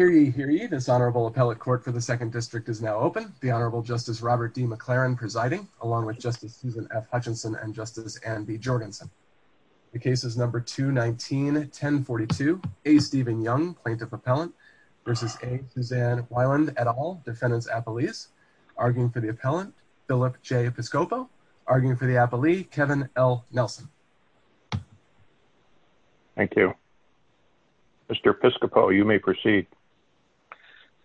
The case is number 219-1042, A. Stephen Young plaintiff appellant versus A. Suzanne Weiland et al. defendant's appellees. Arguing for the appellant, Philip J. Piscopo. Arguing for the appellee, Kevin L. Nelson. Thank you, Mr. Piscopo. You may proceed.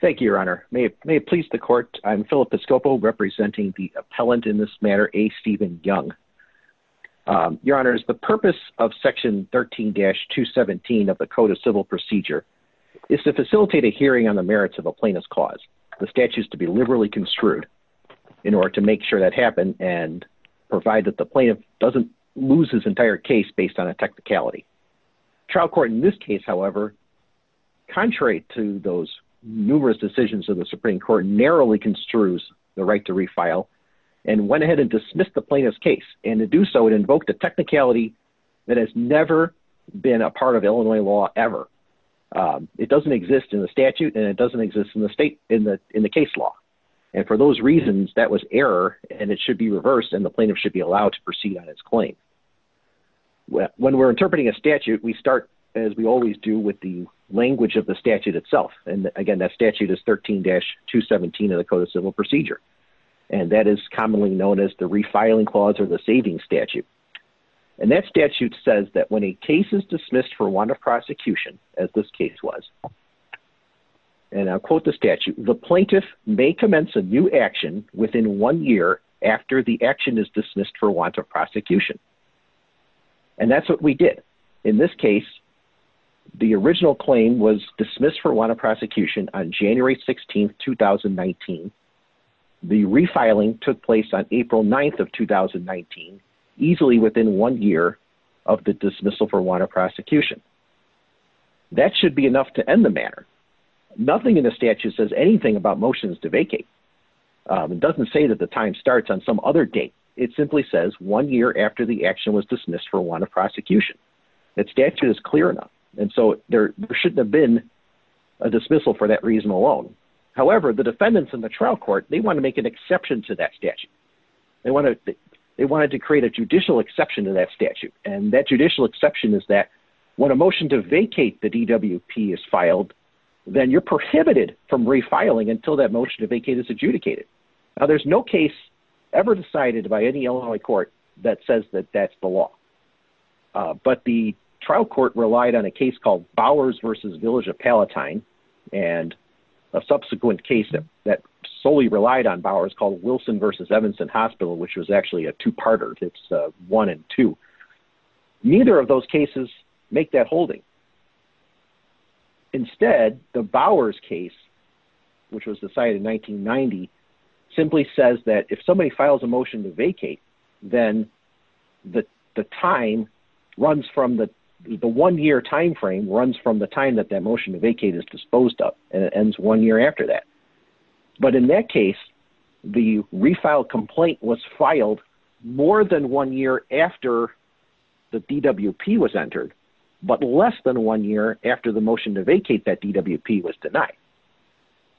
Thank you, your honor. May it please the court, I'm Philip Piscopo representing the appellant in this matter, A. Stephen Young. Your honors, the purpose of section 13-217 of the code of civil procedure is to facilitate a hearing on the merits of a plaintiff's cause, the statutes to be liberally construed in order to make sure that happened and provide that the plaintiff doesn't lose his entire case based on a technicality. Trial court in this case, however, contrary to those numerous decisions of the Supreme court narrowly construes the right to refile and went ahead and dismissed the plaintiff's case. And to do so, it invoked a technicality that has never been a part of Illinois law ever. Um, it doesn't exist in the statute and it doesn't exist in the state, in the, in the case law. And for those reasons that was error and it should be reversed and the plaintiff should be allowed to proceed on its claim. Well, when we're interpreting a statute, we start as we always do with the language of the statute itself. And again, that statute is 13-217 of the code of civil procedure. And that is commonly known as the refiling clause or the saving statute. And that statute says that when a case is dismissed for one of the statute, the plaintiff may commence a new action within one year after the action is dismissed for want of prosecution. And that's what we did in this case. The original claim was dismissed for one of prosecution on January 16th, 2019. The refiling took place on April 9th of 2019, easily within one year of the dismissal for one of prosecution, that should be enough to end the matter. Nothing in the statute says anything about motions to vacate. Um, it doesn't say that the time starts on some other date. It simply says one year after the action was dismissed for one of prosecution. That statute is clear enough. And so there shouldn't have been a dismissal for that reason alone. However, the defendants in the trial court, they want to make an exception to that statute. They want to, they wanted to create a judicial exception to that statute. And that judicial exception is that when a motion to vacate the DWP is then you're prohibited from refiling until that motion to vacate is adjudicated. Now there's no case ever decided by any Illinois court that says that that's the law. Uh, but the trial court relied on a case called Bowers versus village of Palatine and a subsequent case that solely relied on Bowers called Wilson versus Evanston hospital, which was actually a two-parter it's a one and two. Neither of those cases make that holding. Instead the Bowers case, which was decided in 1990, simply says that if somebody files a motion to vacate, then the, the time runs from the, the one year timeframe runs from the time that that motion to vacate is disposed up and it ends one year after that. But in that case, the refile complaint was filed more than one year after. The DWP was entered, but less than one year after the motion to vacate that DWP was denied.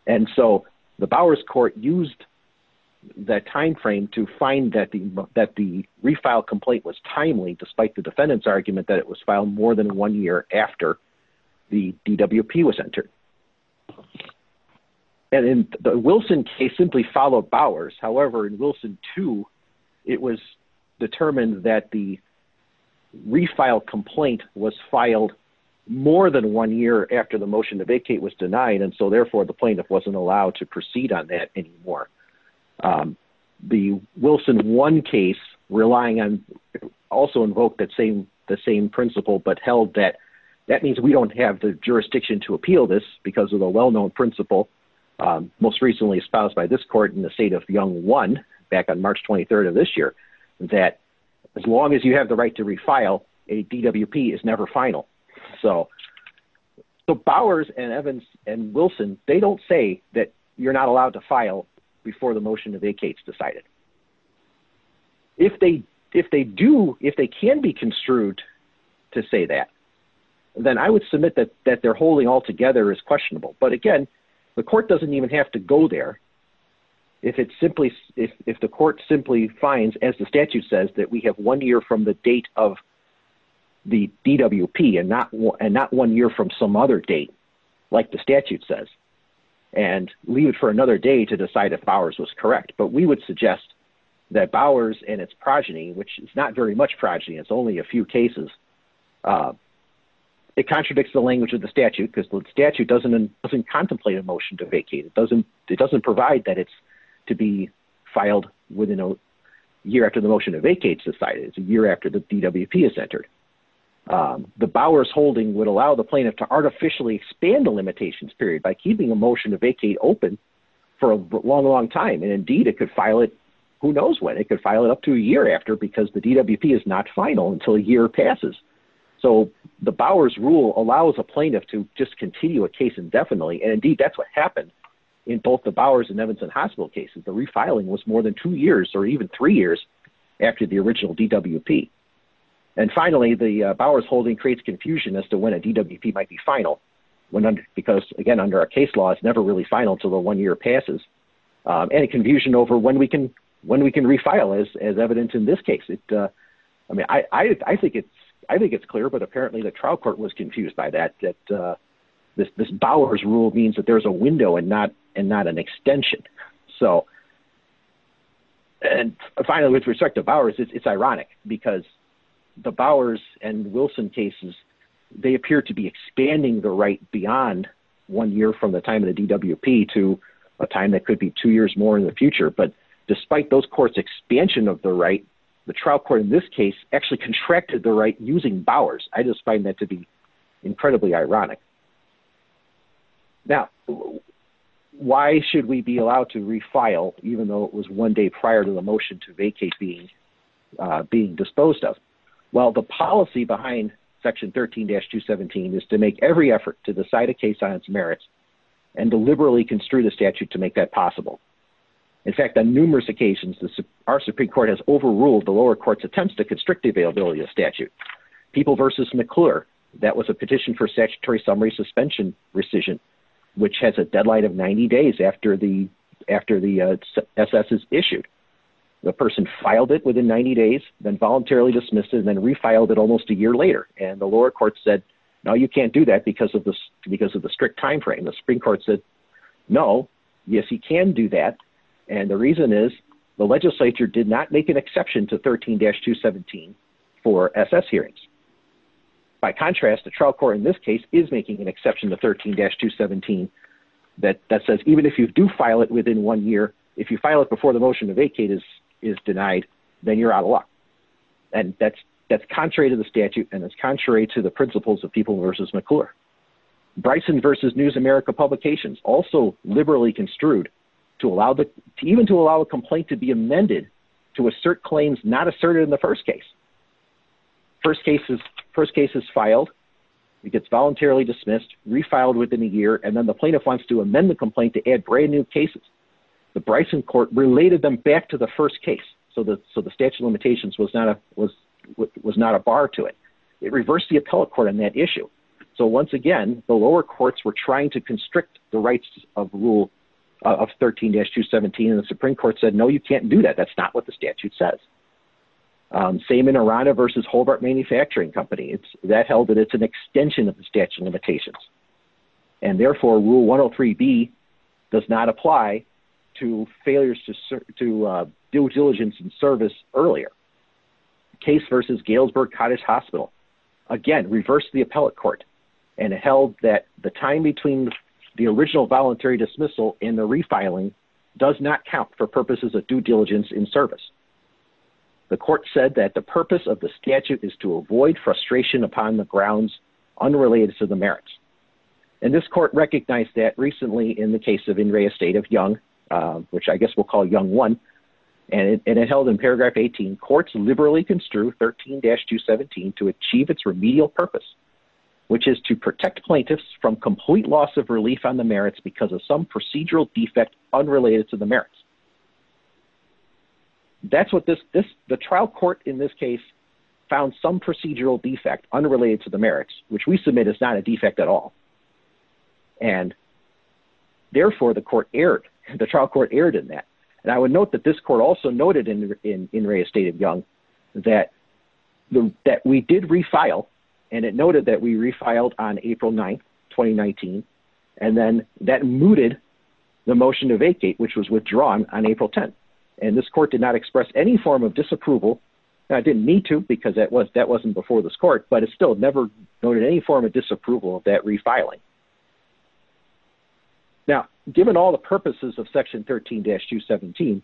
And so the Bowers court used that timeframe to find that the, that the refile complaint was timely, despite the defendant's argument that it was filed more than one year after the DWP was entered and in the Wilson case simply followed Bowers. However, in Wilson too, it was determined that the refile complaint was filed more than one year after the motion to vacate was denied. And so therefore the plaintiff wasn't allowed to proceed on that anymore. Um, the Wilson one case relying on also invoked that same, the same principle, but held that that means we don't have the jurisdiction to appeal this because of the well-known principle, um, most recently espoused by this court in the state of young one back on March 23rd of this year, that as long as you have the right to refile a DWP is never final. So the Bowers and Evans and Wilson, they don't say that you're not allowed to file before the motion to vacates decided if they, if they do, if they can be construed to say that. Then I would submit that, that they're holding altogether is questionable. But again, the court doesn't even have to go there. If it's simply, if, if the court simply finds, as the statute says that we have one year from the date of the DWP and not, and not one year from some other date, like the statute says, and leave it for another day to decide if Bowers was correct, but we would suggest that Bowers and its progeny, which is not very much progeny, it's only a few cases, uh, it contradicts the doesn't contemplate a motion to vacate. It doesn't, it doesn't provide that it's to be filed within a year after the motion to vacate society is a year after the DWP is entered. Um, the Bowers holding would allow the plaintiff to artificially expand the limitations period by keeping a motion to vacate open for a long, long time, and indeed it could file it. Who knows when it could file it up to a year after, because the DWP is not final until a year passes. So the Bowers rule allows a plaintiff to just continue a case indefinitely. And indeed that's what happened in both the Bowers and Evanson hospital cases. The refiling was more than two years or even three years after the original DWP. And finally, the Bowers holding creates confusion as to when a DWP might be final when, because again, under our case law, it's never really final until the one year passes, um, any confusion over when we can, when we can refile as, as evidence in this case. I mean, I, I, I think it's, I think it's clear, but apparently the trial court was confused by that, that, uh, this, this Bowers rule means that there's a window and not, and not an extension, so, and finally, with respect to Bowers, it's, it's ironic because the Bowers and Wilson cases, they appear to be expanding the right beyond one year from the time of the DWP to a time that could be two years more in the future, but despite those expansion of the right, the trial court in this case actually contracted the right using Bowers. I just find that to be incredibly ironic. Now, why should we be allowed to refile, even though it was one day prior to the motion to vacate being, uh, being disposed of while the policy behind section 13 dash two 17 is to make every effort to the side of case science merits and to liberally construe the statute to make that possible. In fact, on numerous occasions, our Supreme court has overruled the lower courts attempts to constrict the availability of statute people versus McClure, that was a petition for statutory summary suspension rescission, which has a deadline of 90 days after the, after the, uh, SS is issued, the person filed it within 90 days, then voluntarily dismissed it and then refiled it almost a year later. And the lower courts said, no, you can't do that because of this, because of the strict timeframe. And the Supreme court said, no, yes, he can do that. And the reason is the legislature did not make an exception to 13 dash two 17 for SS hearings. By contrast, the trial court in this case is making an exception to 13 dash two 17 that that says, even if you do file it within one year, if you file it before the motion to vacate is, is denied, then you're out of luck. And that's, that's contrary to the statute. And it's contrary to the principles of people versus McClure Bryson versus news America publications also liberally construed to allow the, even to allow a complaint to be amended, to assert claims, not asserted in the first case, first cases, first cases filed, it gets voluntarily dismissed refiled within a year. And then the plaintiff wants to amend the complaint to add brand new cases. The Bryson court related them back to the first case. So the, so the statute of limitations was not a, was, was not a bar to it. It reversed the appellate court on that issue. So once again, the lower courts were trying to constrict the rights of rule of 13 dash two 17, and the Supreme court said, no, you can't do that. That's not what the statute says. Um, same in Irana versus Hobart manufacturing company. It's that held that it's an extension of the statute of limitations. And therefore rule one Oh three B does not apply to failures to serve, to, uh, due diligence and service earlier case versus Galesburg cottage hospital. Again, reverse the appellate court and held that the time between the original voluntary dismissal in the refiling does not count for purposes of due diligence in service. The court said that the purpose of the statute is to avoid frustration upon the grounds unrelated to the merits. And this court recognized that recently in the case of Inria state of young, um, which I guess we'll call young one. And it held in paragraph 18 courts liberally construed 13 dash two 17 to achieve its remedial purpose, which is to protect plaintiffs from complete loss of relief on the merits because of some procedural defect unrelated to the merits. That's what this, this, the trial court in this case found some procedural defect unrelated to the merits, which we submit is not a defect at all. And therefore the court aired the trial court aired in that. And I would note that this court also noted in, in, in re estate of young, that, that we did refile. And it noted that we refiled on April 9th, 2019, and then that mooted the motion to vacate, which was withdrawn on April 10th. And this court did not express any form of disapproval. I didn't need to, because that was, that wasn't before this court, but it's still never noted any form of disapproval of that refiling. Now, given all the purposes of section 13 dash two 17,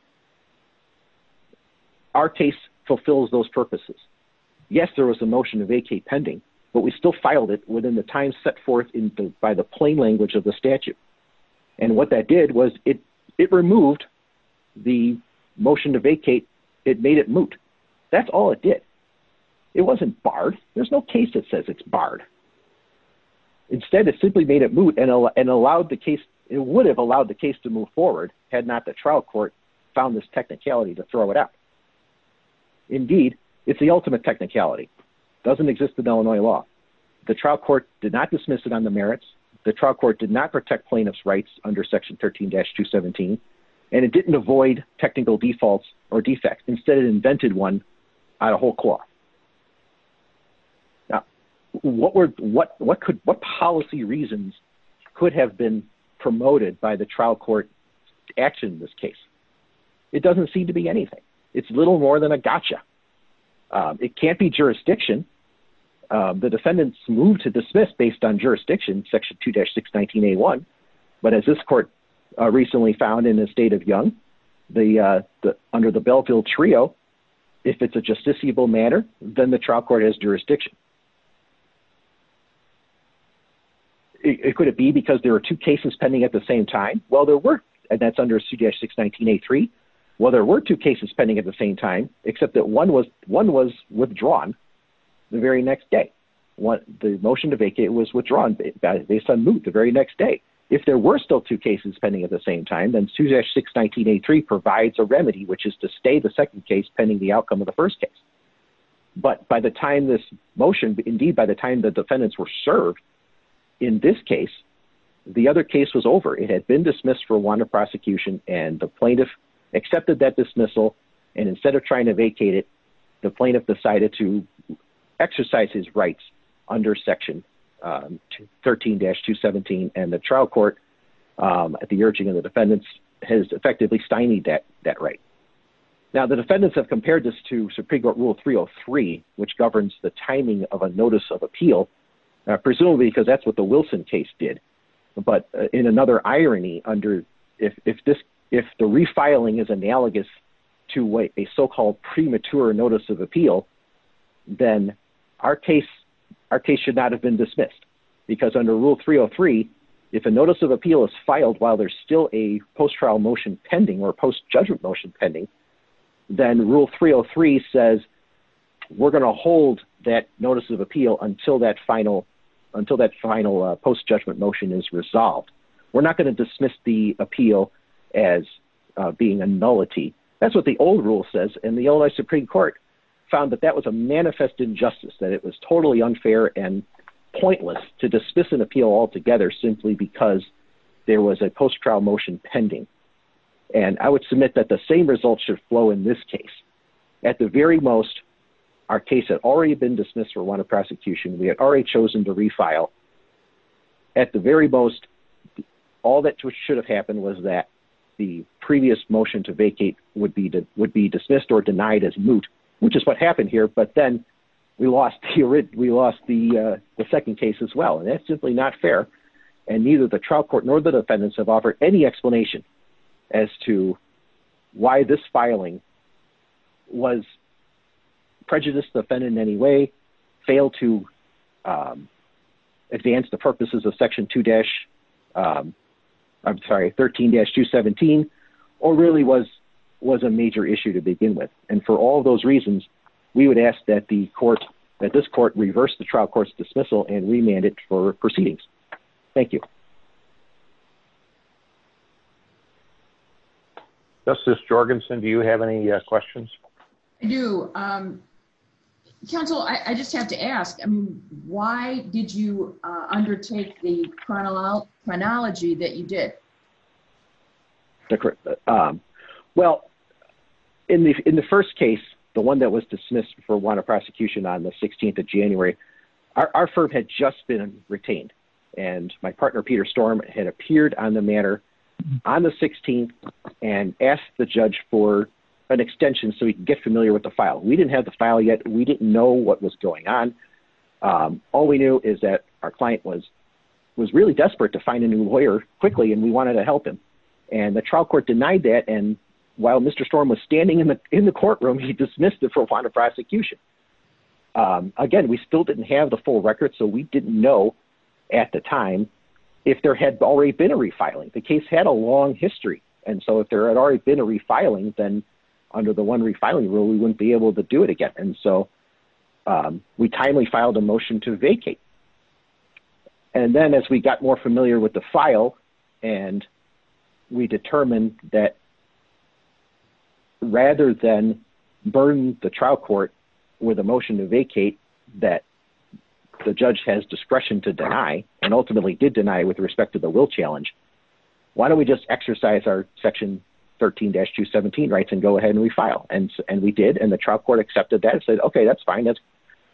our case fulfills those purposes. Yes, there was a motion to vacate pending, but we still filed it within the time set forth in the, by the plain language of the statute. And what that did was it, it removed the motion to vacate. It made it moot. That's all it did. It wasn't barred. There's no case that says it's barred. Instead of simply made it moot and allowed the case, it would have allowed the case to move forward. Had not the trial court found this technicality to throw it up. Indeed, it's the ultimate technicality doesn't exist in Illinois law. The trial court did not dismiss it on the merits. The trial court did not protect plaintiff's rights under section 13 dash two 17, and it didn't avoid technical defaults or defects instead of invented one out of whole cloth. Now, what were, what, what could, what policy reasons could have been promoted by the trial court action in this case? It doesn't seem to be anything. It's little more than a gotcha. Um, it can't be jurisdiction. Um, the defendants moved to dismiss based on jurisdiction section two dash six 19 a one, but as this court recently found in the state of young, the, uh, the, under the Belleville trio, if it's a justiciable manner, then the trial court has jurisdiction. It could it be because there were two cases pending at the same time. Well, there were, and that's under two dash six 19, a three. Well, there were two cases pending at the same time, except that one was, one was withdrawn the very next day. What the motion to vacate was withdrawn based on the very next day. If there were still two cases pending at the same time, then two dash six 19, a provides a remedy, which is to stay the second case pending the outcome of the first case. But by the time this motion, indeed, by the time the defendants were served in this case, the other case was over. It had been dismissed for one of prosecution and the plaintiff accepted that dismissal and instead of trying to vacate it, the plaintiff decided to exercise his rights under section, um, 13 dash two 17 and the trial court. Um, at the urging of the defendants has effectively steinied that, that right now, the defendants have compared this to Supreme court rule three Oh three, which governs the timing of a notice of appeal. Uh, presumably because that's what the Wilson case did, but in another irony under, if, if this, if the refiling is analogous to what a so-called premature notice of appeal, then our case, our case should not have been dismissed because under rule three Oh three, if a notice of appeal is filed while there's still a post trial motion pending or post judgment motion pending, then rule three Oh three says we're going to hold that notice of appeal until that final, until that final post judgment motion is resolved. We're not going to dismiss the appeal as being a nullity. That's what the old rule says. And the Illinois Supreme court found that that was a manifest injustice, that it was totally unfair and pointless to dismiss an appeal altogether simply because there was a post trial motion pending. And I would submit that the same results should flow in this case at the very most. Our case had already been dismissed for one of prosecution. We had already chosen to refile at the very most. All that should have happened was that the previous motion to vacate would be, that would be dismissed or denied as moot, which is what happened here. But then we lost, we lost the, uh, the second case as well. And that's simply not fair. And neither the trial court nor the defendants have offered any explanation as to why this filing was prejudiced, offended in any way, failed to, um, advance the purposes of section two dash, um, I'm sorry, 13 dash two 17, or really was, was a major issue to begin with. And for all of those reasons, we would ask that the court, that this court reversed the trial court's dismissal and remanded for proceedings. Thank you. Justice Jorgensen, do you have any questions? I do. Um, counsel, I just have to ask, I mean, why did you, uh, undertake the chronological chronology that you did? The, um, well in the, in the first case, the one that was dismissed for one of prosecution on the 16th of January, our, our firm had just been retained. And my partner, Peter storm had appeared on the matter on the 16th and asked the judge for an extension so we can get familiar with the file. We didn't have the file yet. We didn't know what was going on. Um, all we knew is that our client was, was really desperate to find a new lawyer quickly and we wanted to help him. And the trial court denied that. And while Mr. Storm was standing in the, in the courtroom, he dismissed it for a point of prosecution. Um, again, we still didn't have the full record. So we didn't know at the time. If there had already been a refiling, the case had a long history. And so if there had already been a refiling, then under the one refiling rule, we wouldn't be able to do it again. And so, um, we timely filed a motion to vacate. And then as we got more familiar with the file and we determined that rather than burn the trial court with a motion to vacate that the judge has discretion to deny and ultimately did deny with respect to the will challenge. Why don't we just exercise our section 13 dash two 17 rights and go ahead and we file and we did, and the trial court accepted that and said, okay, that's fine. That's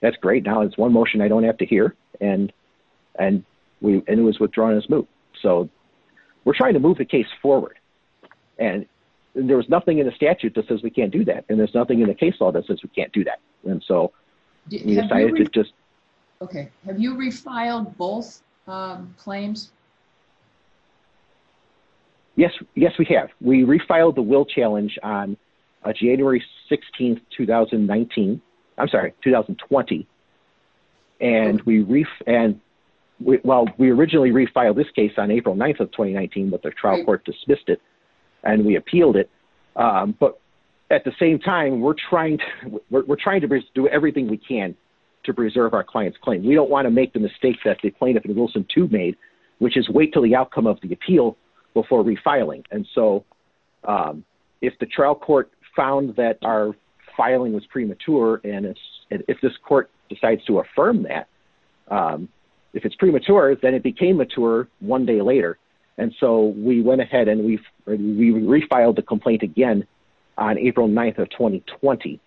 that's great. Now it's one motion. I don't have to hear. And, and we, and it was withdrawn as move. So we're trying to move the case forward and there was nothing in the statute that says we can't do that. And there's nothing in the case law that says we can't do that. And so we decided to just, okay. Have you refiled both claims? Yes. Yes, we have. We refiled the will challenge on January 16th, 2019. I'm sorry, 2020. And we reef and we, well, we originally refiled this case on April 9th of 2019, but the trial court dismissed it and we appealed it. Um, but at the same time, we're trying to, we're trying to do everything we can to preserve our client's claim. We don't want to make the mistakes that the plaintiff in Wilson two made, which is wait till the outcome of the appeal before refiling. And so, um, if the trial court found that our filing was premature and if this court decides to affirm that, um, if it's premature, then it became mature one day later. And so we went ahead and we've, we refiled the complaint again on April 9th of 2020.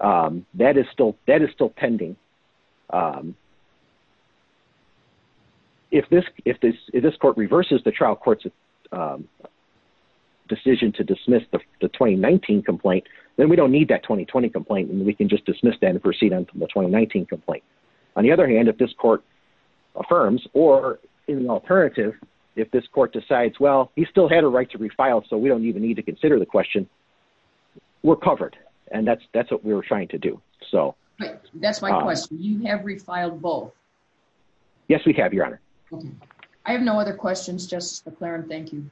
Um, that is still, that is still pending. Um, if this, if this, if this court reverses the trial court's, um, decision to dismiss the 2019 complaint, then we don't need that 2020 complaint. And we can just dismiss that and proceed on the 2019 complaint. On the other hand, if this court affirms, or in the alternative, if this court decides, well, he still had a right to refile, so we don't even need to consider the question we're covered. And that's, that's what we were trying to do. So that's my question. You have refiled both. Yes, we have your honor. I have no other questions. Just the Clarence. Thank you.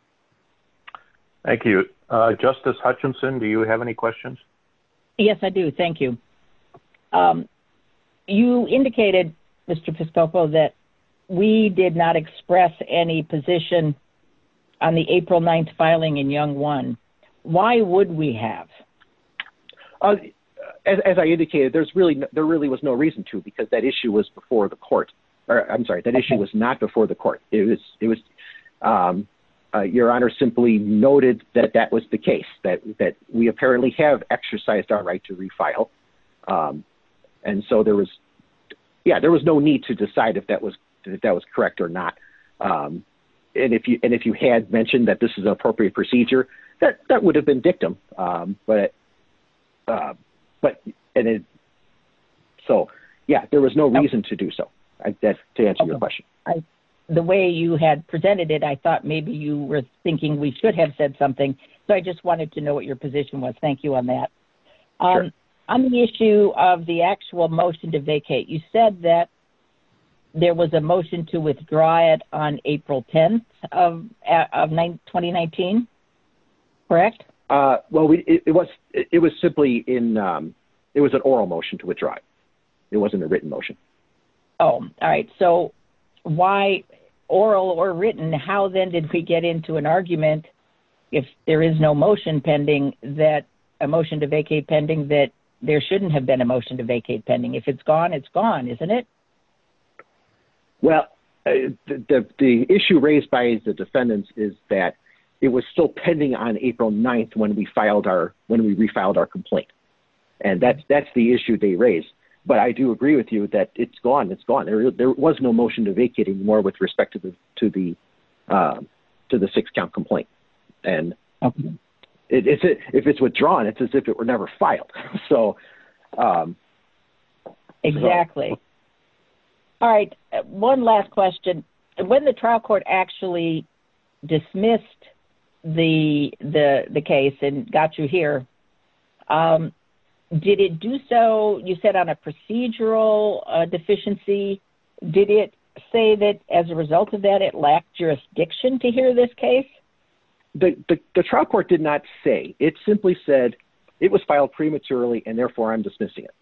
Thank you. Uh, justice Hutchinson. Do you have any questions? Yes, I do. Thank you. Um, you indicated Mr. Fiscalco, that we did not express any position on the April 9th filing in young one, why would we have, uh, as I indicated, there's really, there really was no reason to, because that issue was before the court, or I'm sorry, that issue was not before the court. It was, it was, um, uh, your honor simply noted that that was the case that, that we apparently have exercised our right to refile. Um, and so there was, yeah, there was no need to decide if that was, if that was correct or not. Um, and if you, and if you had mentioned that this is an appropriate procedure that that would have been dictum, um, but, uh, but, and it. So, yeah, there was no reason to do so. I guess to answer your question, the way you had presented it, I thought maybe you were thinking we should have said something. So I just wanted to know what your position was. Thank you on that. Um, on the issue of the actual motion to vacate, you said that there was a motion to withdraw it on April 10th of nine 2019, correct? Uh, well, we, it was, it was simply in, um, it was an oral motion to withdraw. It wasn't a written motion. Oh, all right. So why oral or written? How then did we get into an argument? If there is no motion pending that a motion to vacate pending that there shouldn't have been a motion to vacate pending, if it's gone, it's gone. Isn't it? Well, the issue raised by the defendants is that it was still pending on April 9th when we filed our, when we refiled our complaint and that's, that's the issue they raised, but I do agree with you that it's gone, it's gone. There was no motion to vacating more with respect to the, to the, um, to the six count complaint. And if it's, if it's withdrawn, it's as if it were never filed. So, um, exactly. All right. One last question. When the trial court actually dismissed the, the, the case and got you here, um, did it do so you said on a procedural deficiency, did it say that as a result of that, it lacked jurisdiction to hear this case, the trial court did not say. It simply said it was filed prematurely and therefore I'm dismissing it.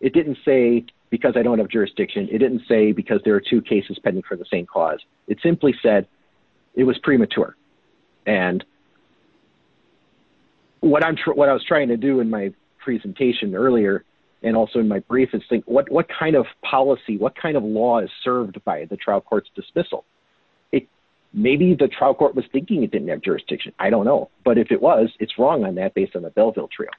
It didn't say because I don't have jurisdiction. It didn't say because there are two cases pending for the same cause. It simply said it was premature. And what I'm sure what I was trying to do in my presentation earlier. And also in my brief is think what, what kind of policy, what kind of law is served by the trial court's dismissal? It maybe the trial court was thinking it didn't have jurisdiction. I don't know, but if it was, it's wrong on that based on the Belleville trail.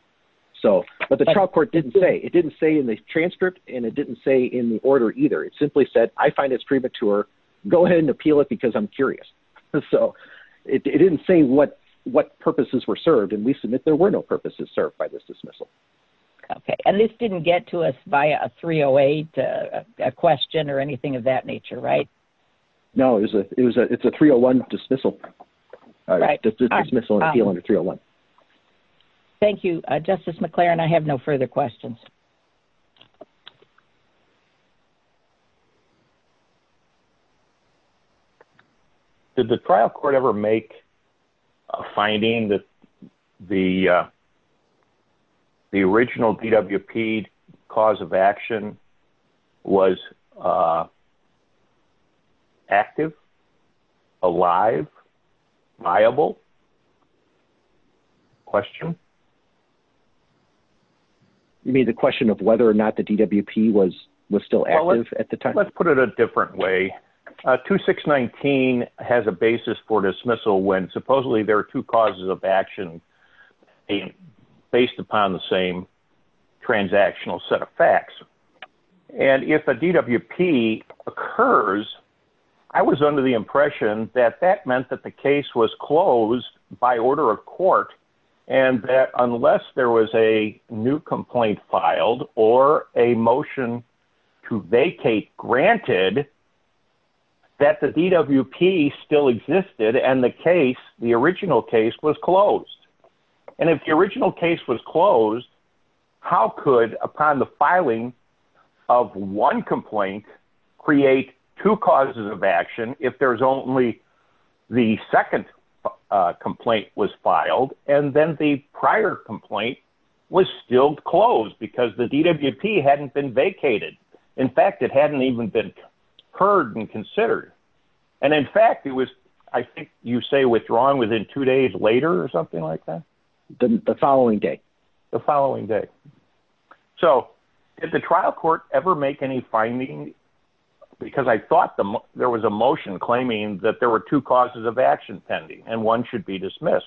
So, but the trial court didn't say it didn't say in the transcript and it didn't say in the order either. It simply said, I find it's premature. Go ahead and appeal it because I'm curious. So it didn't say what, what purposes were served and we submit there were no purposes served by this dismissal. Okay. And this didn't get to us by a three Oh eight, a question or anything of that nature, right? No, it was a, it was a, it's a three Oh one dismissal dismissal. And I feel under three Oh one. Thank you, justice McLaren. I have no further questions. Did the trial court ever make a finding that the, uh, the original DWP cause of action was, uh, active, alive, viable question. You mean the question of whether or not the DWP was, was still active at the time? Let's put it a different way. Uh, two six 19 has a basis for dismissal when supposedly there are two causes of action based upon the same transactional set of facts. And if a DWP occurs, I was under the impression that that meant that the case was closed by order of court. And that unless there was a new complaint filed or a motion to vacate granted. That the DWP still existed. And the case, the original case was closed. And if the original case was closed, how could upon the filing of one complaint, create two causes of action. If there's only the second complaint was filed. And then the prior complaint was still closed because the DWP hadn't been vacated. In fact, it hadn't even been heard and considered. And in fact, it was, I think you say withdrawn within two days later or something like that. Didn't the following day, the following day. So did the trial court ever make any findings? Because I thought there was a motion claiming that there were two causes of action pending and one should be dismissed.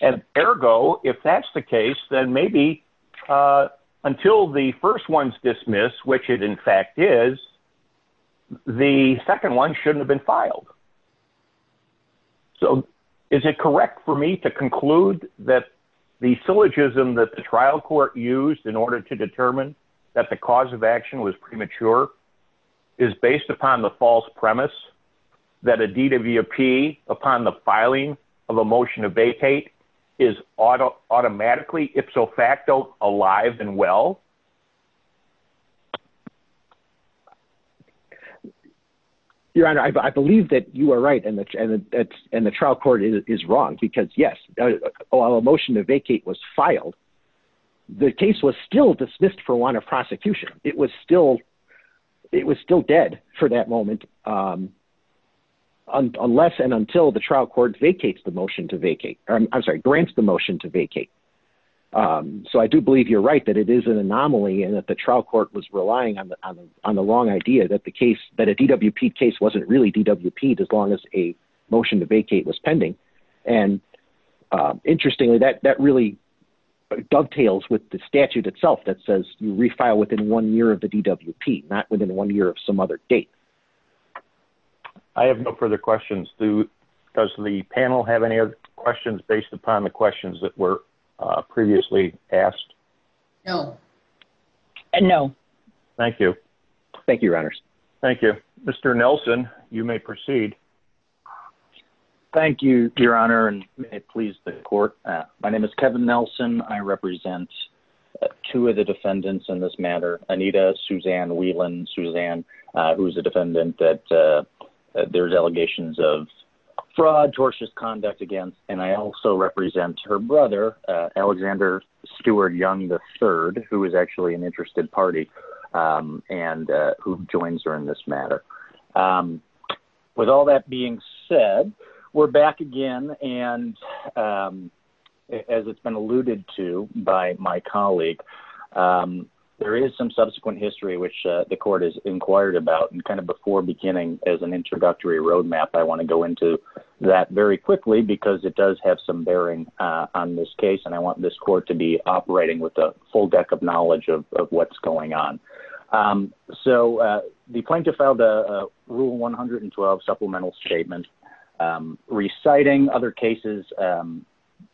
And ergo, if that's the case, then maybe, uh, until the first one's dismissed, which it in fact is the second one shouldn't have been filed. So is it correct for me to conclude that the syllogism that the trial court used in order to determine that the cause of action was premature is based upon the false premise that a DWP upon the filing of a motion to vacate is auto automatically ipso facto alive and well. Okay. Your honor, I believe that you are right. And the, and the trial court is wrong because yes, a motion to vacate was filed, the case was still dismissed for one of prosecution. It was still, it was still dead for that moment. Um, unless and until the trial court vacates the motion to vacate, I'm sorry, grants the motion to vacate. Um, so I do believe you're right that it is an anomaly and that the trial court was relying on the, on the, on the long idea that the case that a DWP case wasn't really DWP as long as a motion to vacate was pending. And, uh, interestingly that, that really dovetails with the statute itself that says you refile within one year of the DWP, not within one year of some other date, I have no further questions. Does the panel have any other questions based upon the questions that were previously asked? No. And no. Thank you. Thank you. Your honors. Thank you, Mr. Nelson. You may proceed. Thank you, your honor. And it pleased the court. My name is Kevin Nelson. I represent two of the defendants in this matter, Anita, Suzanne Whelan, Suzanne, uh, who is a defendant that, uh, there's allegations of fraud, tortious conduct against, and I also represent her brother, uh, Alexander Stewart young, the third, who is actually an interested party. Um, and, uh, who joins her in this matter? Um, with all that being said, we're back again. And, um, as it's been alluded to by my colleague, um, there is some subsequent history, which, uh, the court has inquired about and kind of before beginning as an introductory roadmap, I want to go into that very quickly because it does have some bearing, uh, on this case and I want this court to be operating with a full deck of knowledge of what's going on. Um, so, uh, the plaintiff filed a rule 112 supplemental statement, um, reciting other cases, um,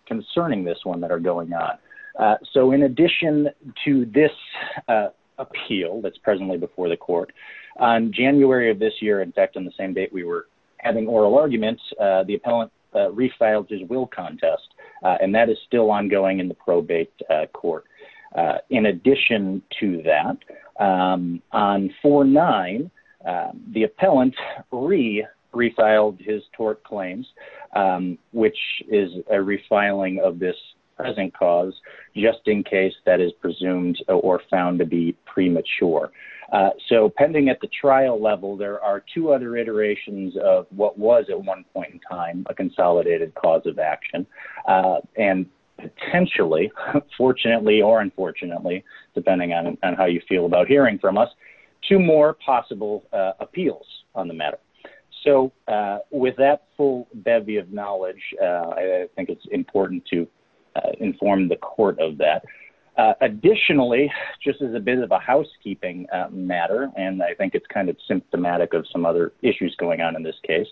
concerning this one that are going on. Uh, so in addition to this, uh, appeal that's presently before the court on January of this year, in fact, in the same date, we were having oral arguments, uh, the appellant refiled his will contest, uh, and that is still ongoing in the probate court. Uh, in addition to that, um, on four nine, uh, the appellant re refiled his tort claims, um, which is a refiling of this present cause just in case that is presumed or found to be premature. Uh, so pending at the trial level, there are two other iterations of what was at one point in time, a consolidated cause of action. Uh, and potentially fortunately, or unfortunately, depending on how you feel about hearing from us, two more possible, uh, appeals on the matter. So, uh, with that full bevy of knowledge, uh, I think it's important to inform the court of that. Uh, additionally, just as a bit of a housekeeping matter, and I think it's kind of symptomatic of some other issues going on in this case.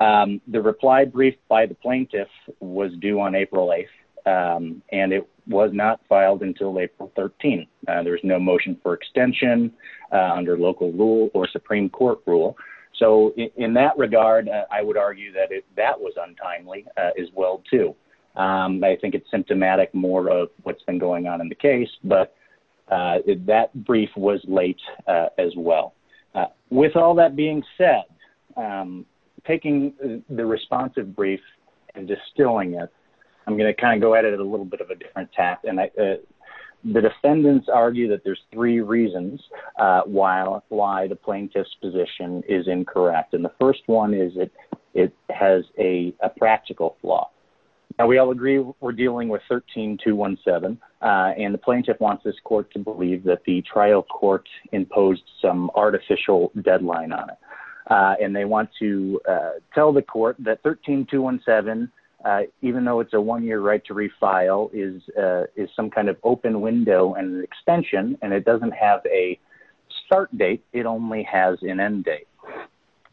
Um, the reply brief by the plaintiff was due on April 8th. Um, and it was not filed until April 13th. Uh, there was no motion for extension, uh, under local rule or Supreme court rule. So in that regard, I would argue that if that was untimely, uh, as well too. Um, I think it's symptomatic more of what's been going on in the case, but. Uh, that brief was late, uh, as well. Uh, with all that being said, um, taking the responsive brief and distilling it, I'm going to kind of go at it a little bit of a different task. And I, uh, the defendants argue that there's three reasons, uh, why, why the plaintiff's position is incorrect. And the first one is it, it has a practical flaw and we all agree we're dealing with 13, two one seven. Uh, and the plaintiff wants this court to believe that the trial court imposed some artificial deadline on it. Uh, and they want to, uh, tell the court that 13, two one seven, uh, even though it's a one-year right to refile is, uh, is some kind of open window and an extension, and it doesn't have a start date, it only has an end date.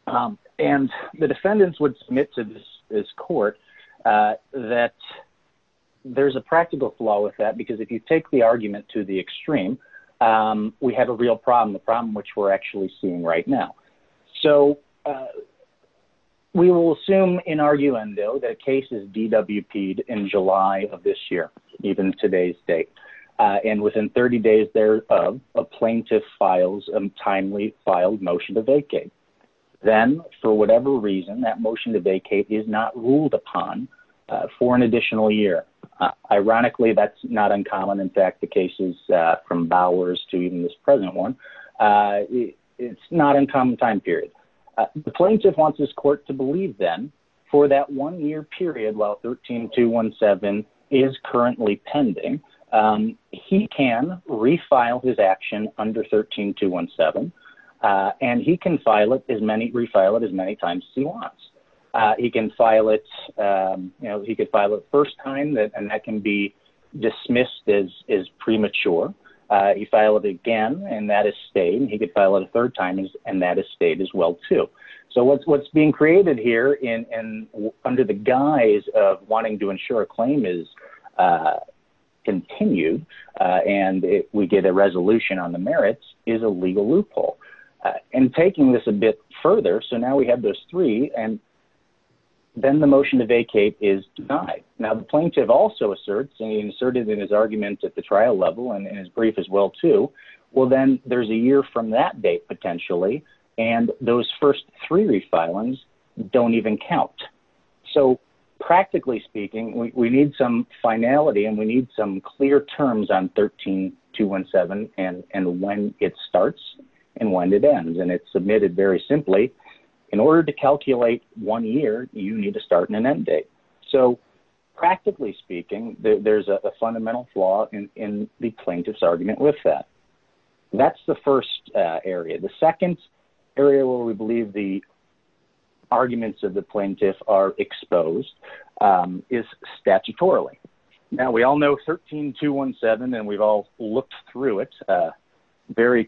Um, and the defendants would submit to this court, uh, that there's a practical flaw with that because if you take the argument to the extreme, um, we have a real problem, the problem, which we're actually seeing right now. So, uh, we will assume in our UN though, that cases DWP in July of this year, even today's date, uh, and within 30 days, there, uh, a plaintiff files and timely filed motion to vacate. Then for whatever reason, that motion to vacate is not ruled upon, uh, for an additional year. Uh, ironically, that's not uncommon. In fact, the cases, uh, from Bowers to even this present one, uh, it's not uncommon time period. Uh, the plaintiff wants this court to believe them for that one year period. While 13, two one seven is currently pending. Um, he can refile his action under 13, two one seven. Uh, and he can file it as many refile it as many times as he wants. Uh, he can file it, um, you know, he could file it first time that, and can be dismissed as, as premature. Uh, he filed it again and that has stayed and he could file it a third time and that has stayed as well too. So what's, what's being created here in, and under the guise of wanting to ensure a claim is, uh, continued, uh, and we get a resolution on the merits is a legal loophole, uh, and taking this a bit further. So now we have those three and then the motion to vacate is denied. Now the plaintiff also asserts and he inserted in his argument at the trial level and in his brief as well too. Well, then there's a year from that date potentially. And those first three refilings don't even count. So practically speaking, we need some finality and we need some clear terms on 13, two one seven and, and when it starts and when it ends and it's submitted very simply in order to calculate one year, you need to start in an end date. So practically speaking, there's a fundamental flaw in the plaintiff's argument with that. That's the first area. The second area where we believe the arguments of the plaintiff are exposed, um, is statutorily. Now we all know 13, two one seven, and we've all looked through it, uh, very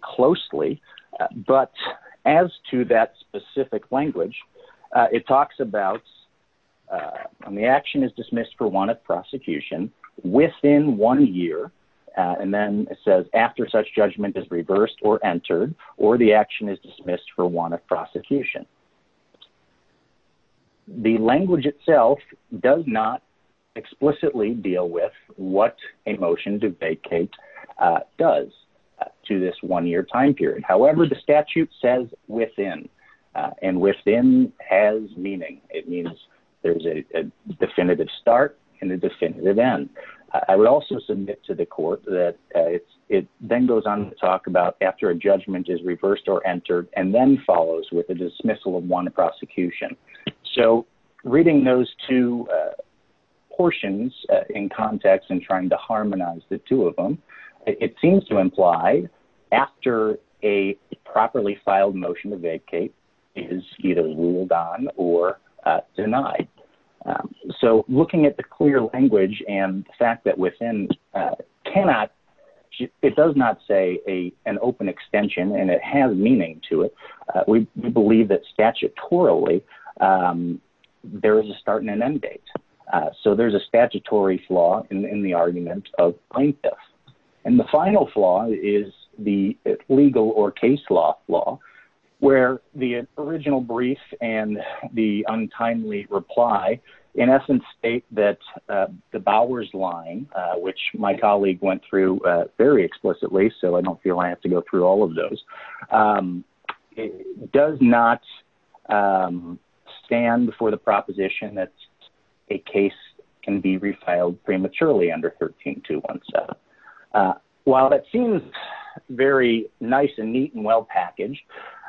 and the action is dismissed for one of prosecution within one year. Uh, and then it says after such judgment is reversed or entered, or the action is dismissed for one of prosecution, the language itself does not explicitly deal with what a motion to vacate, uh, does, uh, to this one year time period. However, the statute says within, uh, and within has meaning. It means there's a definitive start in the definitive end. I would also submit to the court that, uh, it's, it then goes on to talk about after a judgment is reversed or entered and then follows with a dismissal of one of prosecution. So reading those two, uh, portions in context and trying to harmonize the two of them, it seems to imply after a properly filed motion to vacate is either or, uh, denied. Um, so looking at the clear language and the fact that within, uh, cannot, it does not say a, an open extension and it has meaning to it, uh, we believe that statutorily, um, there is a start and an end date. Uh, so there's a statutory flaw in the argument of plaintiffs. And the final flaw is the legal or case law law where the original brief and the untimely reply in essence state that, uh, the Bowers line, uh, which my colleague went through a very explicitly, so I don't feel I have to go through all of those. Um, it does not, um, stand for the proposition. That's a case can be refiled prematurely under 13, two one seven. Uh, while that seems very nice and neat and well packaged,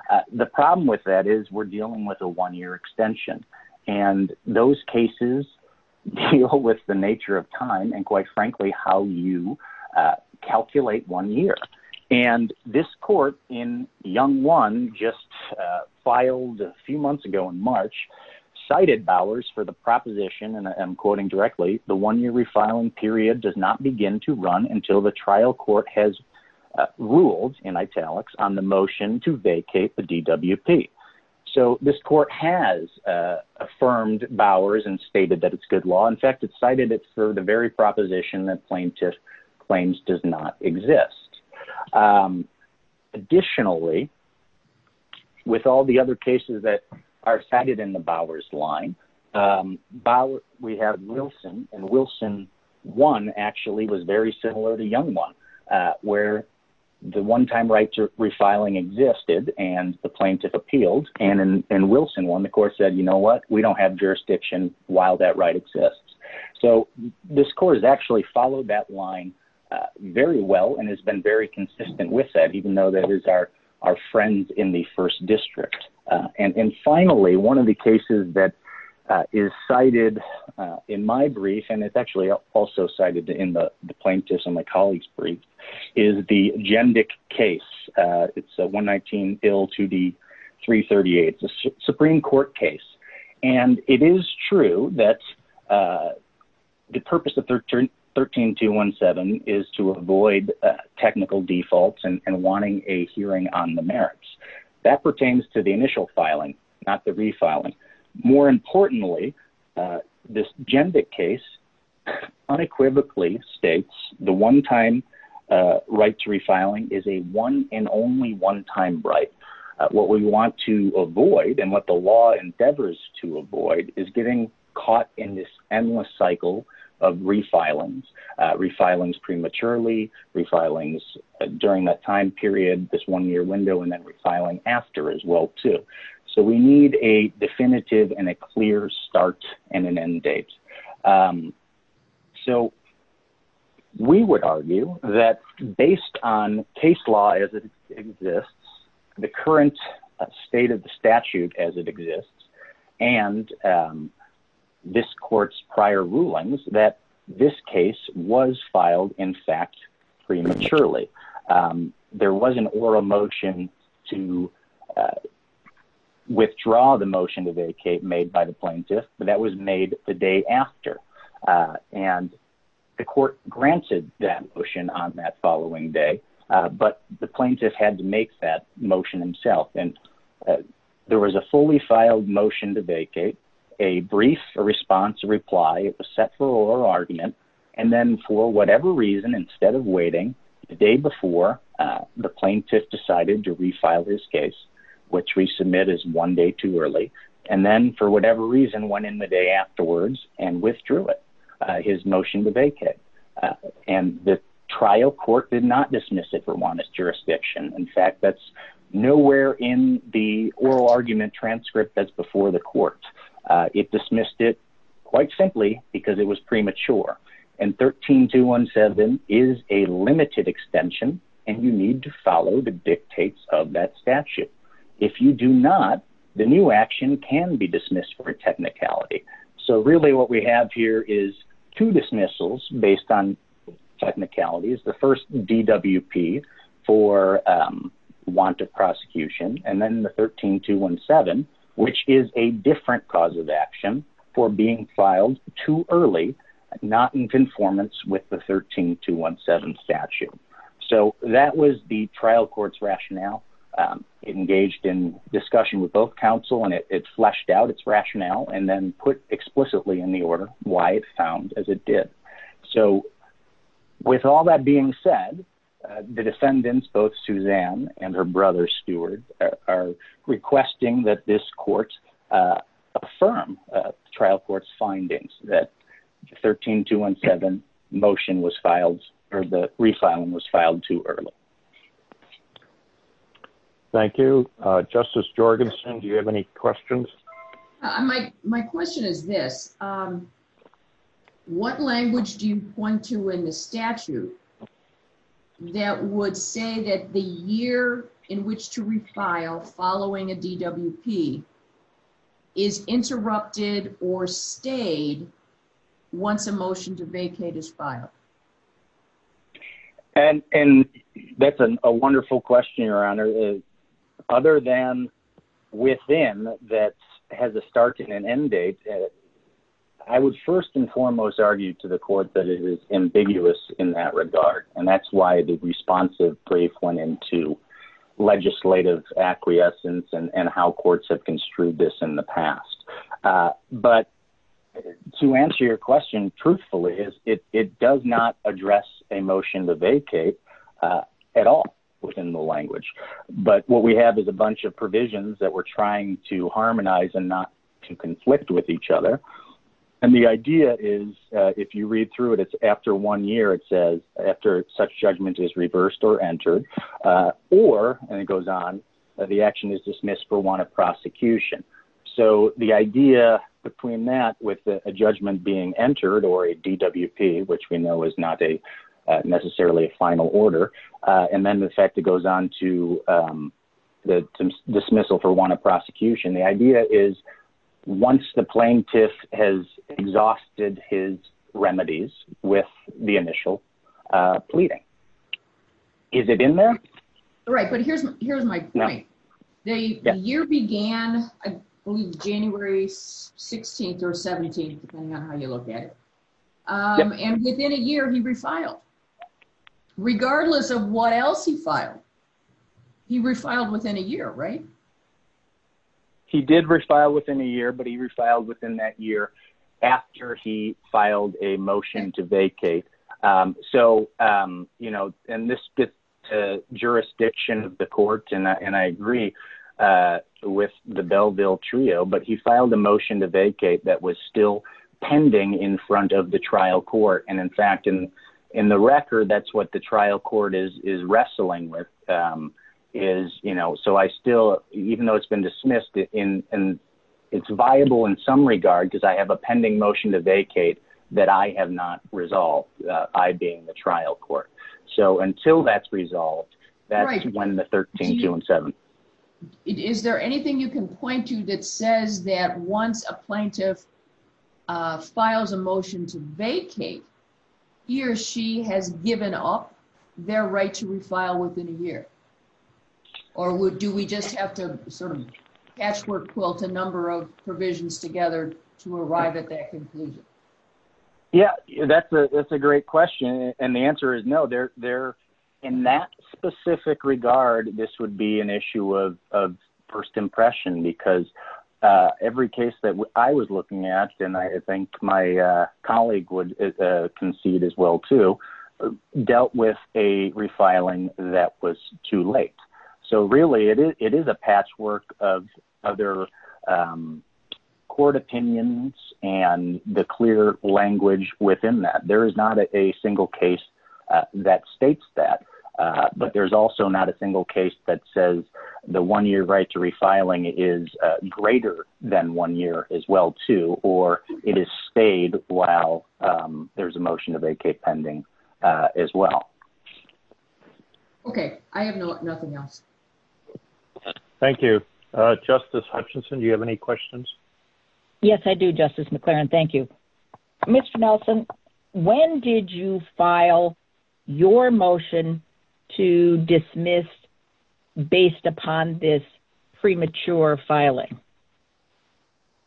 uh, the problem with that is we're dealing with a one year extension and those cases deal with the nature of time and quite frankly, how you, uh, calculate one year. And this court in young one just, uh, filed a few months ago in March cited Bowers for the proposition. And I am quoting directly. The one year refiling period does not begin to run until the trial court has ruled in italics on the motion to vacate the DWP. So this court has, uh, affirmed Bowers and stated that it's good law. In fact, it cited it for the very proposition that plaintiff claims does not exist. Um, Additionally, with all the other cases that are cited in the Bowers line, um, we have Wilson and Wilson one actually was very similar to young one. Uh, where the one-time rights are refiling existed and the plaintiff appealed and in Wilson one, the court said, you know what, we don't have jurisdiction while that right exists. So this court has actually followed that line very well and has been very consistent with that, even though that is our, our friends in the first district. Uh, and, and finally, one of the cases that is cited, uh, in my brief, and it's is the gender case. Uh, it's a one 19 bill to the three 38. It's a Supreme court case. And it is true that, uh, the purpose of 13, 13, two one seven is to avoid, uh, technical defaults and wanting a hearing on the merits that pertains to the initial filing, not the refiling more importantly, uh, this gender case unequivocally states the one-time, uh, right to refiling is a one and only one time, right? Uh, what we want to avoid and what the law endeavors to avoid is getting caught in this endless cycle of refilings, uh, refilings prematurely refilings during that time period, this one year window, and then refiling after as well, too. So we need a definitive and a clear start and an end date. Um, so we would argue that based on case law as it exists, the current state of the statute as it exists, and, um, this court's prior rulings that this case was filed in fact, prematurely, um, there was an oral motion to, uh, Withdraw the motion to vacate made by the plaintiff, but that was made the day after, uh, and the court granted that motion on that following day. Uh, but the plaintiff had to make that motion himself. And, uh, there was a fully filed motion to vacate a brief, a response reply, it was set for oral argument. And then for whatever reason, instead of waiting the day before, uh, the and then for whatever reason, one in the day afterwards and withdrew it, uh, his motion to vacate, uh, and the trial court did not dismiss it for Juan's jurisdiction. In fact, that's nowhere in the oral argument transcript that's before the court, uh, it dismissed it quite simply because it was premature. And 13, two one seven is a limited extension and you need to follow the dictates of that statute. If you do not, the new action can be dismissed for technicality. So really what we have here is two dismissals based on technicality is the first DWP for, um, want to prosecution. And then the 13, two one seven, which is a different cause of action for being filed too early, not in conformance with the 13, two one seven statute. So that was the trial court's rationale. Um, it engaged in discussion with both counsel and it fleshed out its rationale and then put explicitly in the order why it found as it did. So with all that being said, uh, the defendants, both Suzanne and her brother's stewards are requesting that this court, uh, affirm, uh, trial court's findings that 13, two one seven motion was filed or the refiling was filed too early. Thank you, uh, justice Jorgensen. Do you have any questions? I might. My question is this, um, what language do you point to in the statute that would say that the year in which to refile following a DWP is interrupted or stayed once a motion to vacate his file? And, and that's a wonderful question. Your honor is other than within that has a start and an end date. I would first and foremost argue to the court that it is ambiguous in that regard, and that's why the responsive brief went into legislative acquiescence and how courts have construed this in the past. Uh, but to answer your question, truthfully is it, it does not address a motion to vacate, uh, at all within the language, but what we have is a bunch of provisions that we're trying to harmonize and not to conflict with each other, and the idea is, uh, if you read through it, it's after one year, it says after such judgment is reversed or entered, uh, or, and it goes on. Uh, the action is dismissed for one of prosecution. So the idea between that with a judgment being entered or a DWP, which we know is not a, uh, necessarily a final order. Uh, and then the fact that goes on to, um, the dismissal for one of prosecution. The idea is once the plaintiff has exhausted his remedies with the initial, uh, pleading. Is it in there? Right. But here's, here's my point. The year began, I believe January 16th or 17th, depending on how you look at it. Um, and within a year he refiled regardless of what else he filed. He refiled within a year, right? He did refile within a year, but he refiled within that year after he filed a motion to vacate. Um, so, um, you know, and this gets to jurisdiction of the court and I, and I agree, uh, with the Belleville trio, but he filed a motion to vacate that was still pending in front of the trial court. And in fact, in, in the record, that's what the trial court is, is wrestling with, um, is, you know, so I still, even though it's been dismissed in, and. It's viable in some regard, because I have a pending motion to vacate that I have not resolved, uh, I being the trial court. So until that's resolved, that's when the 13, two and seven. Is there anything you can point to that says that once a plaintiff, uh, files a motion to vacate, he or she has given up their right to refile within a year, or would, do we just have to sort of patchwork quilt a number of provisions together to arrive at that conclusion? Yeah, that's a, that's a great question. And the answer is no, they're there in that specific regard. This would be an issue of, of first impression because, uh, every case that I was looking at, and I think my, uh, colleague would, uh, concede as well to dealt with a refiling that was too late. So really it is, it is a patchwork of other, um, court opinions and the clear language within that. There is not a single case that states that, uh, but there's also not a single case that says the one year right to refiling is greater than one year as well, too. Or it is stayed while, um, there's a motion to vacate pending, uh, as well. Okay. I have no, nothing else. Thank you. Uh, justice Hutchinson, do you have any questions? Yes, I do. Justice McLaren. Thank you, Mr. When did you file your motion to dismiss based upon this premature filing?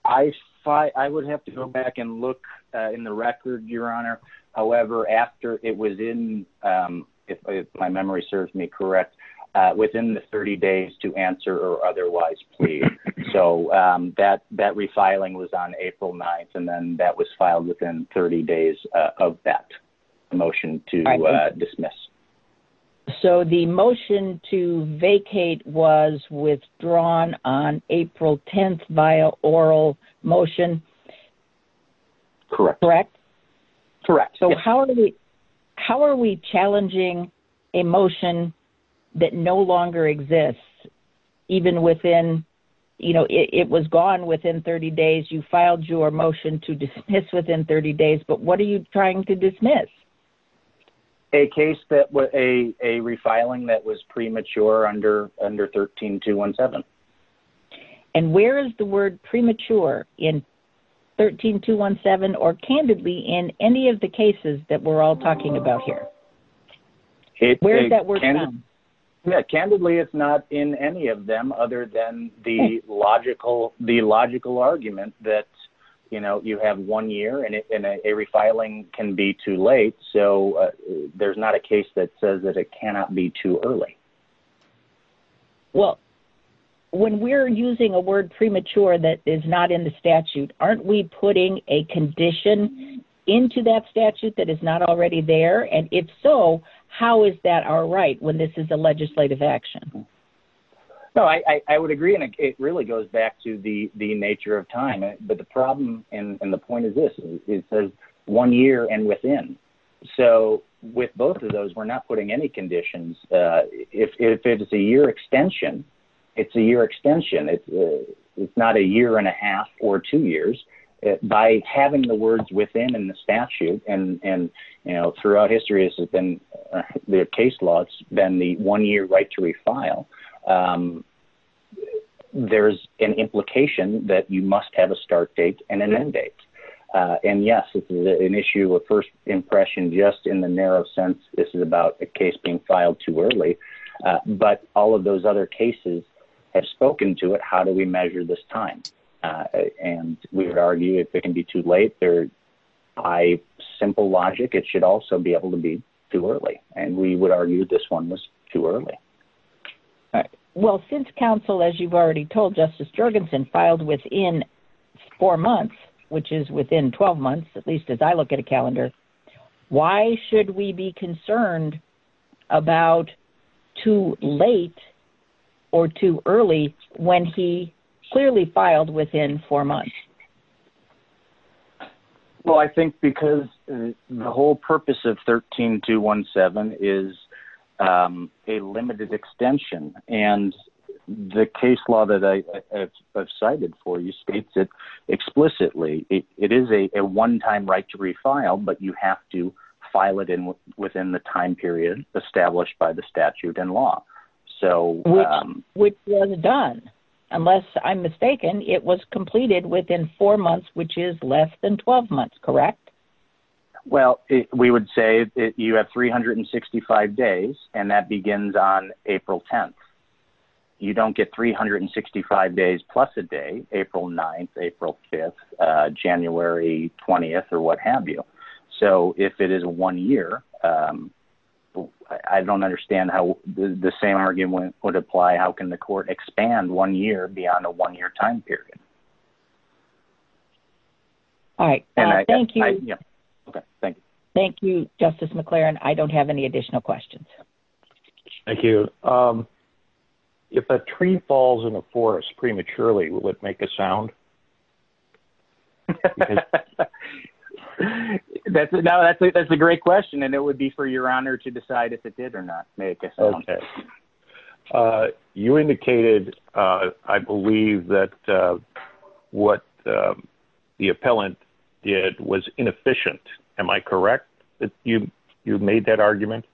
I thought I would have to go back and look in the record, your honor. However, after it was in, um, if my memory serves me correct, uh, within the 30 days to answer or otherwise, please. So, um, that, that refiling was on April 9th and then that was filed within 30 days of that motion to dismiss. So the motion to vacate was withdrawn on April 10th via oral motion. Correct, correct. So how are we, how are we challenging a motion that no longer exists even within, you know, it was gone within 30 days, you filed your motion to dismiss within 30 days, but what are you trying to dismiss a case that was a refiling that was premature under, under 13, two, one, seven. And where is the word premature in 13, two, one, seven, or candidly in any of the cases that we're all talking about here, where is that word? Yeah, candidly, it's not in any of them other than the logical, the logical argument that, you know, you have one year and a refiling can be too late. So there's not a case that says that it cannot be too early. Well, when we're using a word premature, that is not in the statute, aren't we putting a condition into that statute that is not already there? And if so, how is that our right? When this is a legislative action? No, I, I would agree. And it really goes back to the, the nature of time, but the problem and the point of this is one year and within. So with both of those, we're not putting any conditions. Uh, if, if it's a year extension, it's a year extension, it's, uh, it's not a year and a half or two years. By having the words within, in the statute and, and, you know, throughout history has been the case law. It's been the one year right to refile. Um, there's an implication that you must have a start date and an end date. Uh, and yes, this is an issue of first impression, just in the narrow sense. This is about a case being filed too early. Uh, but all of those other cases have spoken to it. How do we measure this time? Uh, and we would argue if it can be too late there. I simple logic. It should also be able to be too early. And we would argue this one was too early. Well, since counsel, as you've already told justice Jorgensen filed within four months, which is within 12 months, at least as I look at a calendar, why should we be concerned about too late or too early when he clearly filed within four months? Well, I think because the whole purpose of 13, two one seven is, um, a limited extension and the case law that I have cited for you states that explicitly it is a, a one-time right to refile, but you have to file it in within the time period established by the statute and law. So, um, which was done, unless I'm mistaken, it was completed within four months, which is less than 12 months. Correct. Well, we would say that you have 365 days and that begins on April 10th. You don't get 365 days plus a day, April 9th, April 5th, uh, January 20th, or what have you. So if it is a one year, um, I don't understand how the same argument would apply. How can the court expand one year beyond a one year time period? All right. Thank you. Okay. Thank you. Thank you, justice McLaren. I don't have any additional questions. Thank you. Um, if a tree falls in a forest prematurely, would make a sound that's a, that's a, that's a great question. And it would be for your honor to decide if it did or not make a sound. Uh, you indicated, uh, I believe that, uh, what, um, the appellant did was inefficient, am I correct that you, you've made that argument?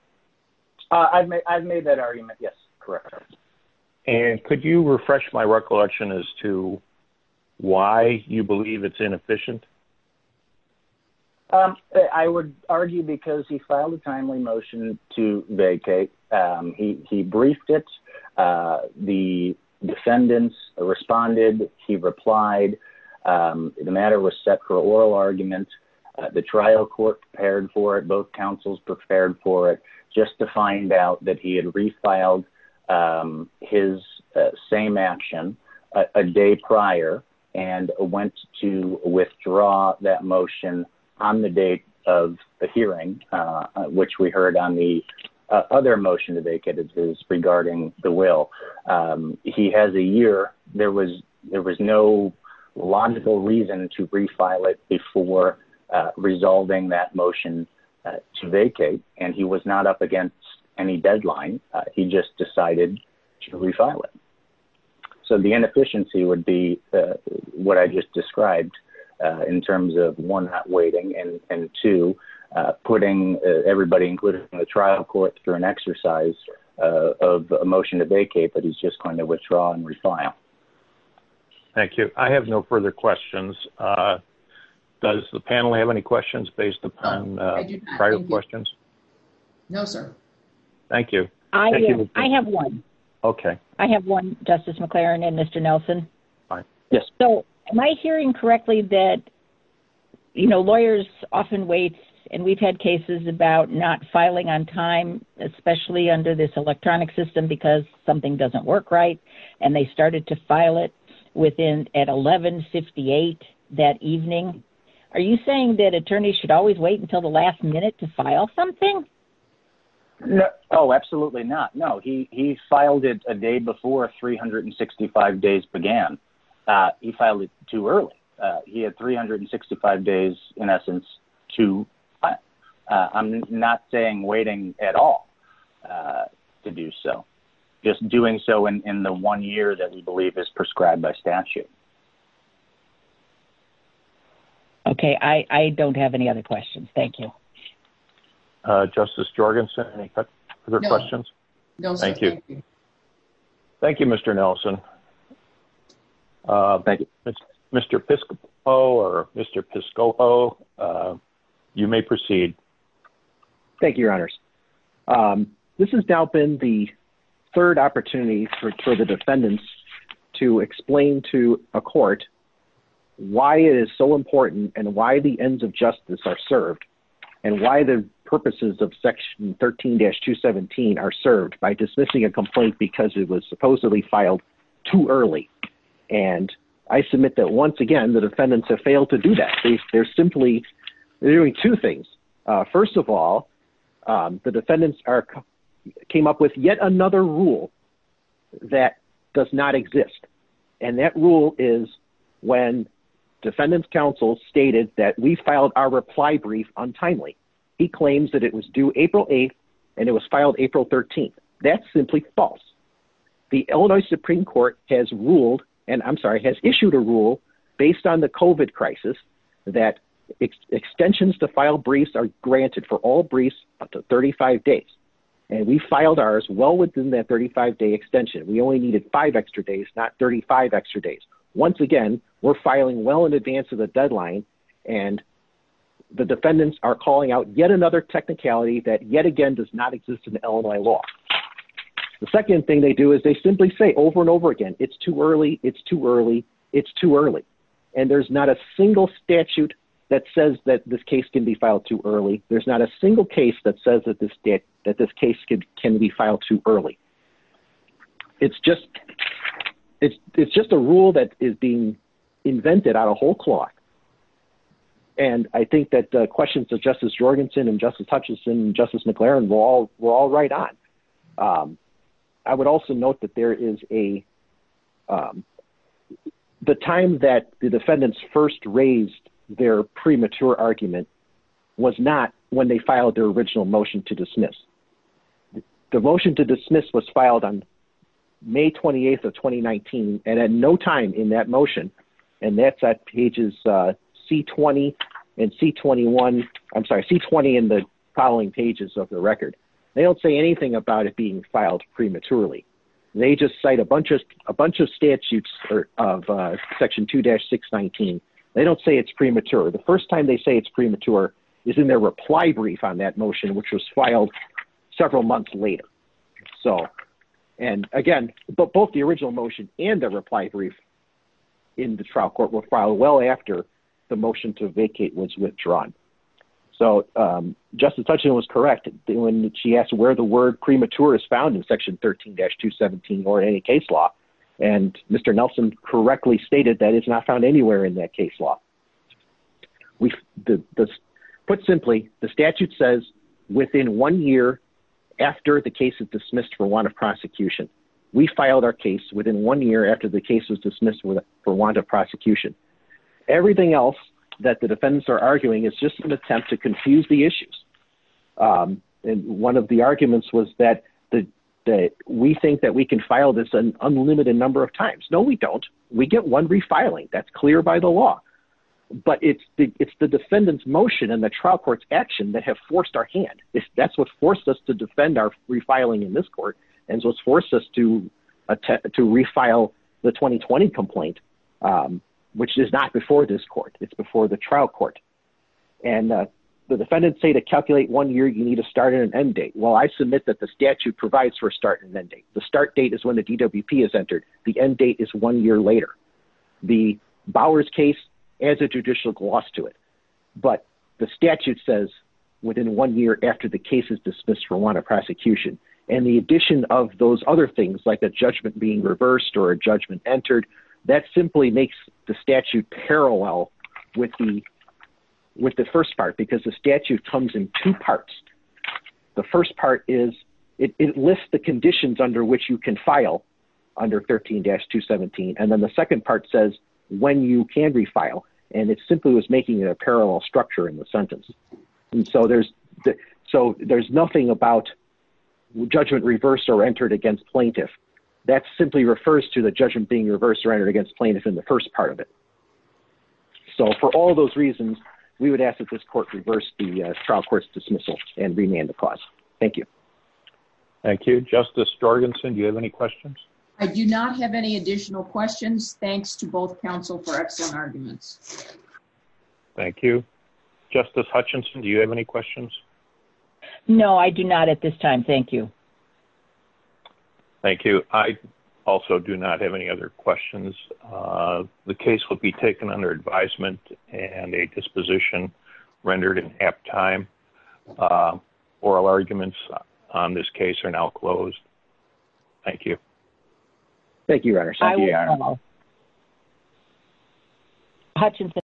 Uh, I've made, I've made that argument. Yes, correct. And could you refresh my recollection as to why you believe it's inefficient? Um, I would argue because he filed a timely motion to vacate. Um, he, he briefed it. Uh, the defendants responded. He replied, um, the matter was set for an oral argument. Uh, the trial court prepared for it. Both councils prepared for it just to find out that he had refiled, um, his, uh, same action a day prior and went to withdraw that motion on the date of the hearing, uh, which we heard on the other motion to vacate it is regarding the will. Um, he has a year, there was, there was no logical reason to refile it before, uh, resolving that motion to vacate. And he was not up against any deadline. Uh, he just decided to refile it. So the inefficiency would be, uh, what I just described, uh, in terms of one, not waiting and, and two, uh, putting everybody included in the trial court through an exercise, uh, of a motion to vacate, but he's just going to withdraw and refile. Thank you. I have no further questions. Uh, does the panel have any questions based upon, uh, prior questions? No, sir. Thank you. I have one. Okay. I have one justice McLaren and Mr. Nelson. Yes. So am I hearing correctly that, you know, lawyers often wait and we've had cases about not filing on time, especially under this electronic system, because something doesn't work right. And they started to file it within at 11 58 that evening. Are you saying that attorneys should always wait until the last minute to file something? Oh, absolutely not. No, he, he filed it a day before 365 days began. Uh, he filed it too early. Uh, he had 365 days in essence to, uh, I'm not saying waiting at all, uh, to do so just doing so in the one year that we believe is prescribed by statute. Okay. I don't have any other questions. Thank you. Uh, justice Jorgensen, any other questions? No, thank you. Thank you, Mr. Nelson. Uh, thank you, Mr. Pisco or Mr. Pisco. Oh, uh, you may proceed. Thank you, your honors. Um, this has now been the third opportunity for, for the defendants to explain to a court why it is so important and why the ends of justice are served and why the purposes of section 13 dash two 17 are served by dismissing a complaint because it was supposedly filed too early. And I submit that once again, the defendants have failed to do that. They're simply doing two things. Uh, first of all, um, the defendants are, came up with yet another rule. That does not exist. And that rule is when defendants counsel stated that we filed our reply brief untimely, he claims that it was due April 8th and it was filed April 13th. That's simply false. The Illinois Supreme court has ruled and I'm sorry, has issued a rule based on the COVID crisis that extensions to file briefs are granted for all briefs up to 35 days. And we filed ours well within that 35 day extension. We only needed five extra days, not 35 extra days. Once again, we're filing well in advance of the deadline. And the defendants are calling out yet another technicality that yet again, does not exist in Illinois law. The second thing they do is they simply say over and over again, it's too early. It's too early. It's too early. And there's not a single statute that says that this case can be filed too early. There's not a single case that says that this debt, that this case can be filed too early. It's just, it's, it's just a rule that is being. Invented out a whole clock. And I think that the questions of justice Jorgensen and justice Hutchinson, justice McLaren, we're all, we're all right on. Um, I would also note that there is a, um, the time that the defendants first raised their premature argument was not when they filed their original motion to dismiss the motion to dismiss was filed on May 28th of 2019. And at no time in that motion, and that's at pages, uh, C 20 and C 21, I'm sorry, C 20 in the following pages of the record, they don't say anything about it being filed prematurely. They just cite a bunch of, a bunch of statutes of, uh, section two dash six 19, they don't say it's premature. The first time they say it's premature is in their reply brief on that motion, which was filed several months later. So, and again, but both the original motion and the reply brief in the trial court were filed well after the motion to vacate was withdrawn. So, um, justice Hutchinson was correct when she asked where the word premature is found in section 13 dash two 17 or any case law, and Mr. Nelson correctly stated that it's not found anywhere in that case law. We put simply the statute says within one year after the case is dismissed for one of prosecution, we filed our case within one year after the case was dismissed for one to prosecution, everything else that the defendants are arguing is just an attempt to confuse the issues. Um, and one of the arguments was that the, that we think that we can file this an unlimited number of times. No, we don't. We get one refiling. That's clear by the law. But it's the, it's the defendant's motion and the trial court's action that have forced our hand. If that's what forced us to defend our refiling in this court. And so it's forced us to attempt to refile the 2020 complaint. Um, which is not before this court. It's before the trial court. And, uh, the defendants say to calculate one year, you need to start at an end date. Well, I submit that the statute provides for a start and end date. The start date is when the DWP is entered. The end date is one year later. The Bowers case as a judicial gloss to it, but the statute says within one year after the case is dismissed for one, a prosecution and the addition of those other things like the judgment being reversed or a judgment entered that simply makes the statute parallel with the, with the first part, because the statute comes in two parts, the first part is it lists the conditions under which you can file under 13 dash two 17. And then the second part says when you can refile, and it's simply, it was making it a parallel structure in the sentence, and so there's, so there's nothing about judgment reversed or entered against plaintiff that's simply refers to the judgment being reversed or entered against plaintiff in the first part of it. So for all those reasons, we would ask that this court reverse the trial court's dismissal and remand the cause. Thank you. Thank you. Justice Jorgensen. Do you have any questions? I do not have any additional questions. Thanks to both counsel for excellent arguments. Thank you. Justice Hutchinson. Do you have any questions? No, I do not at this time. Thank you. Thank you. I also do not have any other questions. Uh, the case will be taken under advisement and a disposition rendered in app time, uh, oral arguments on this case are now closed. Thank you. Thank you. Runners. Hutchinson.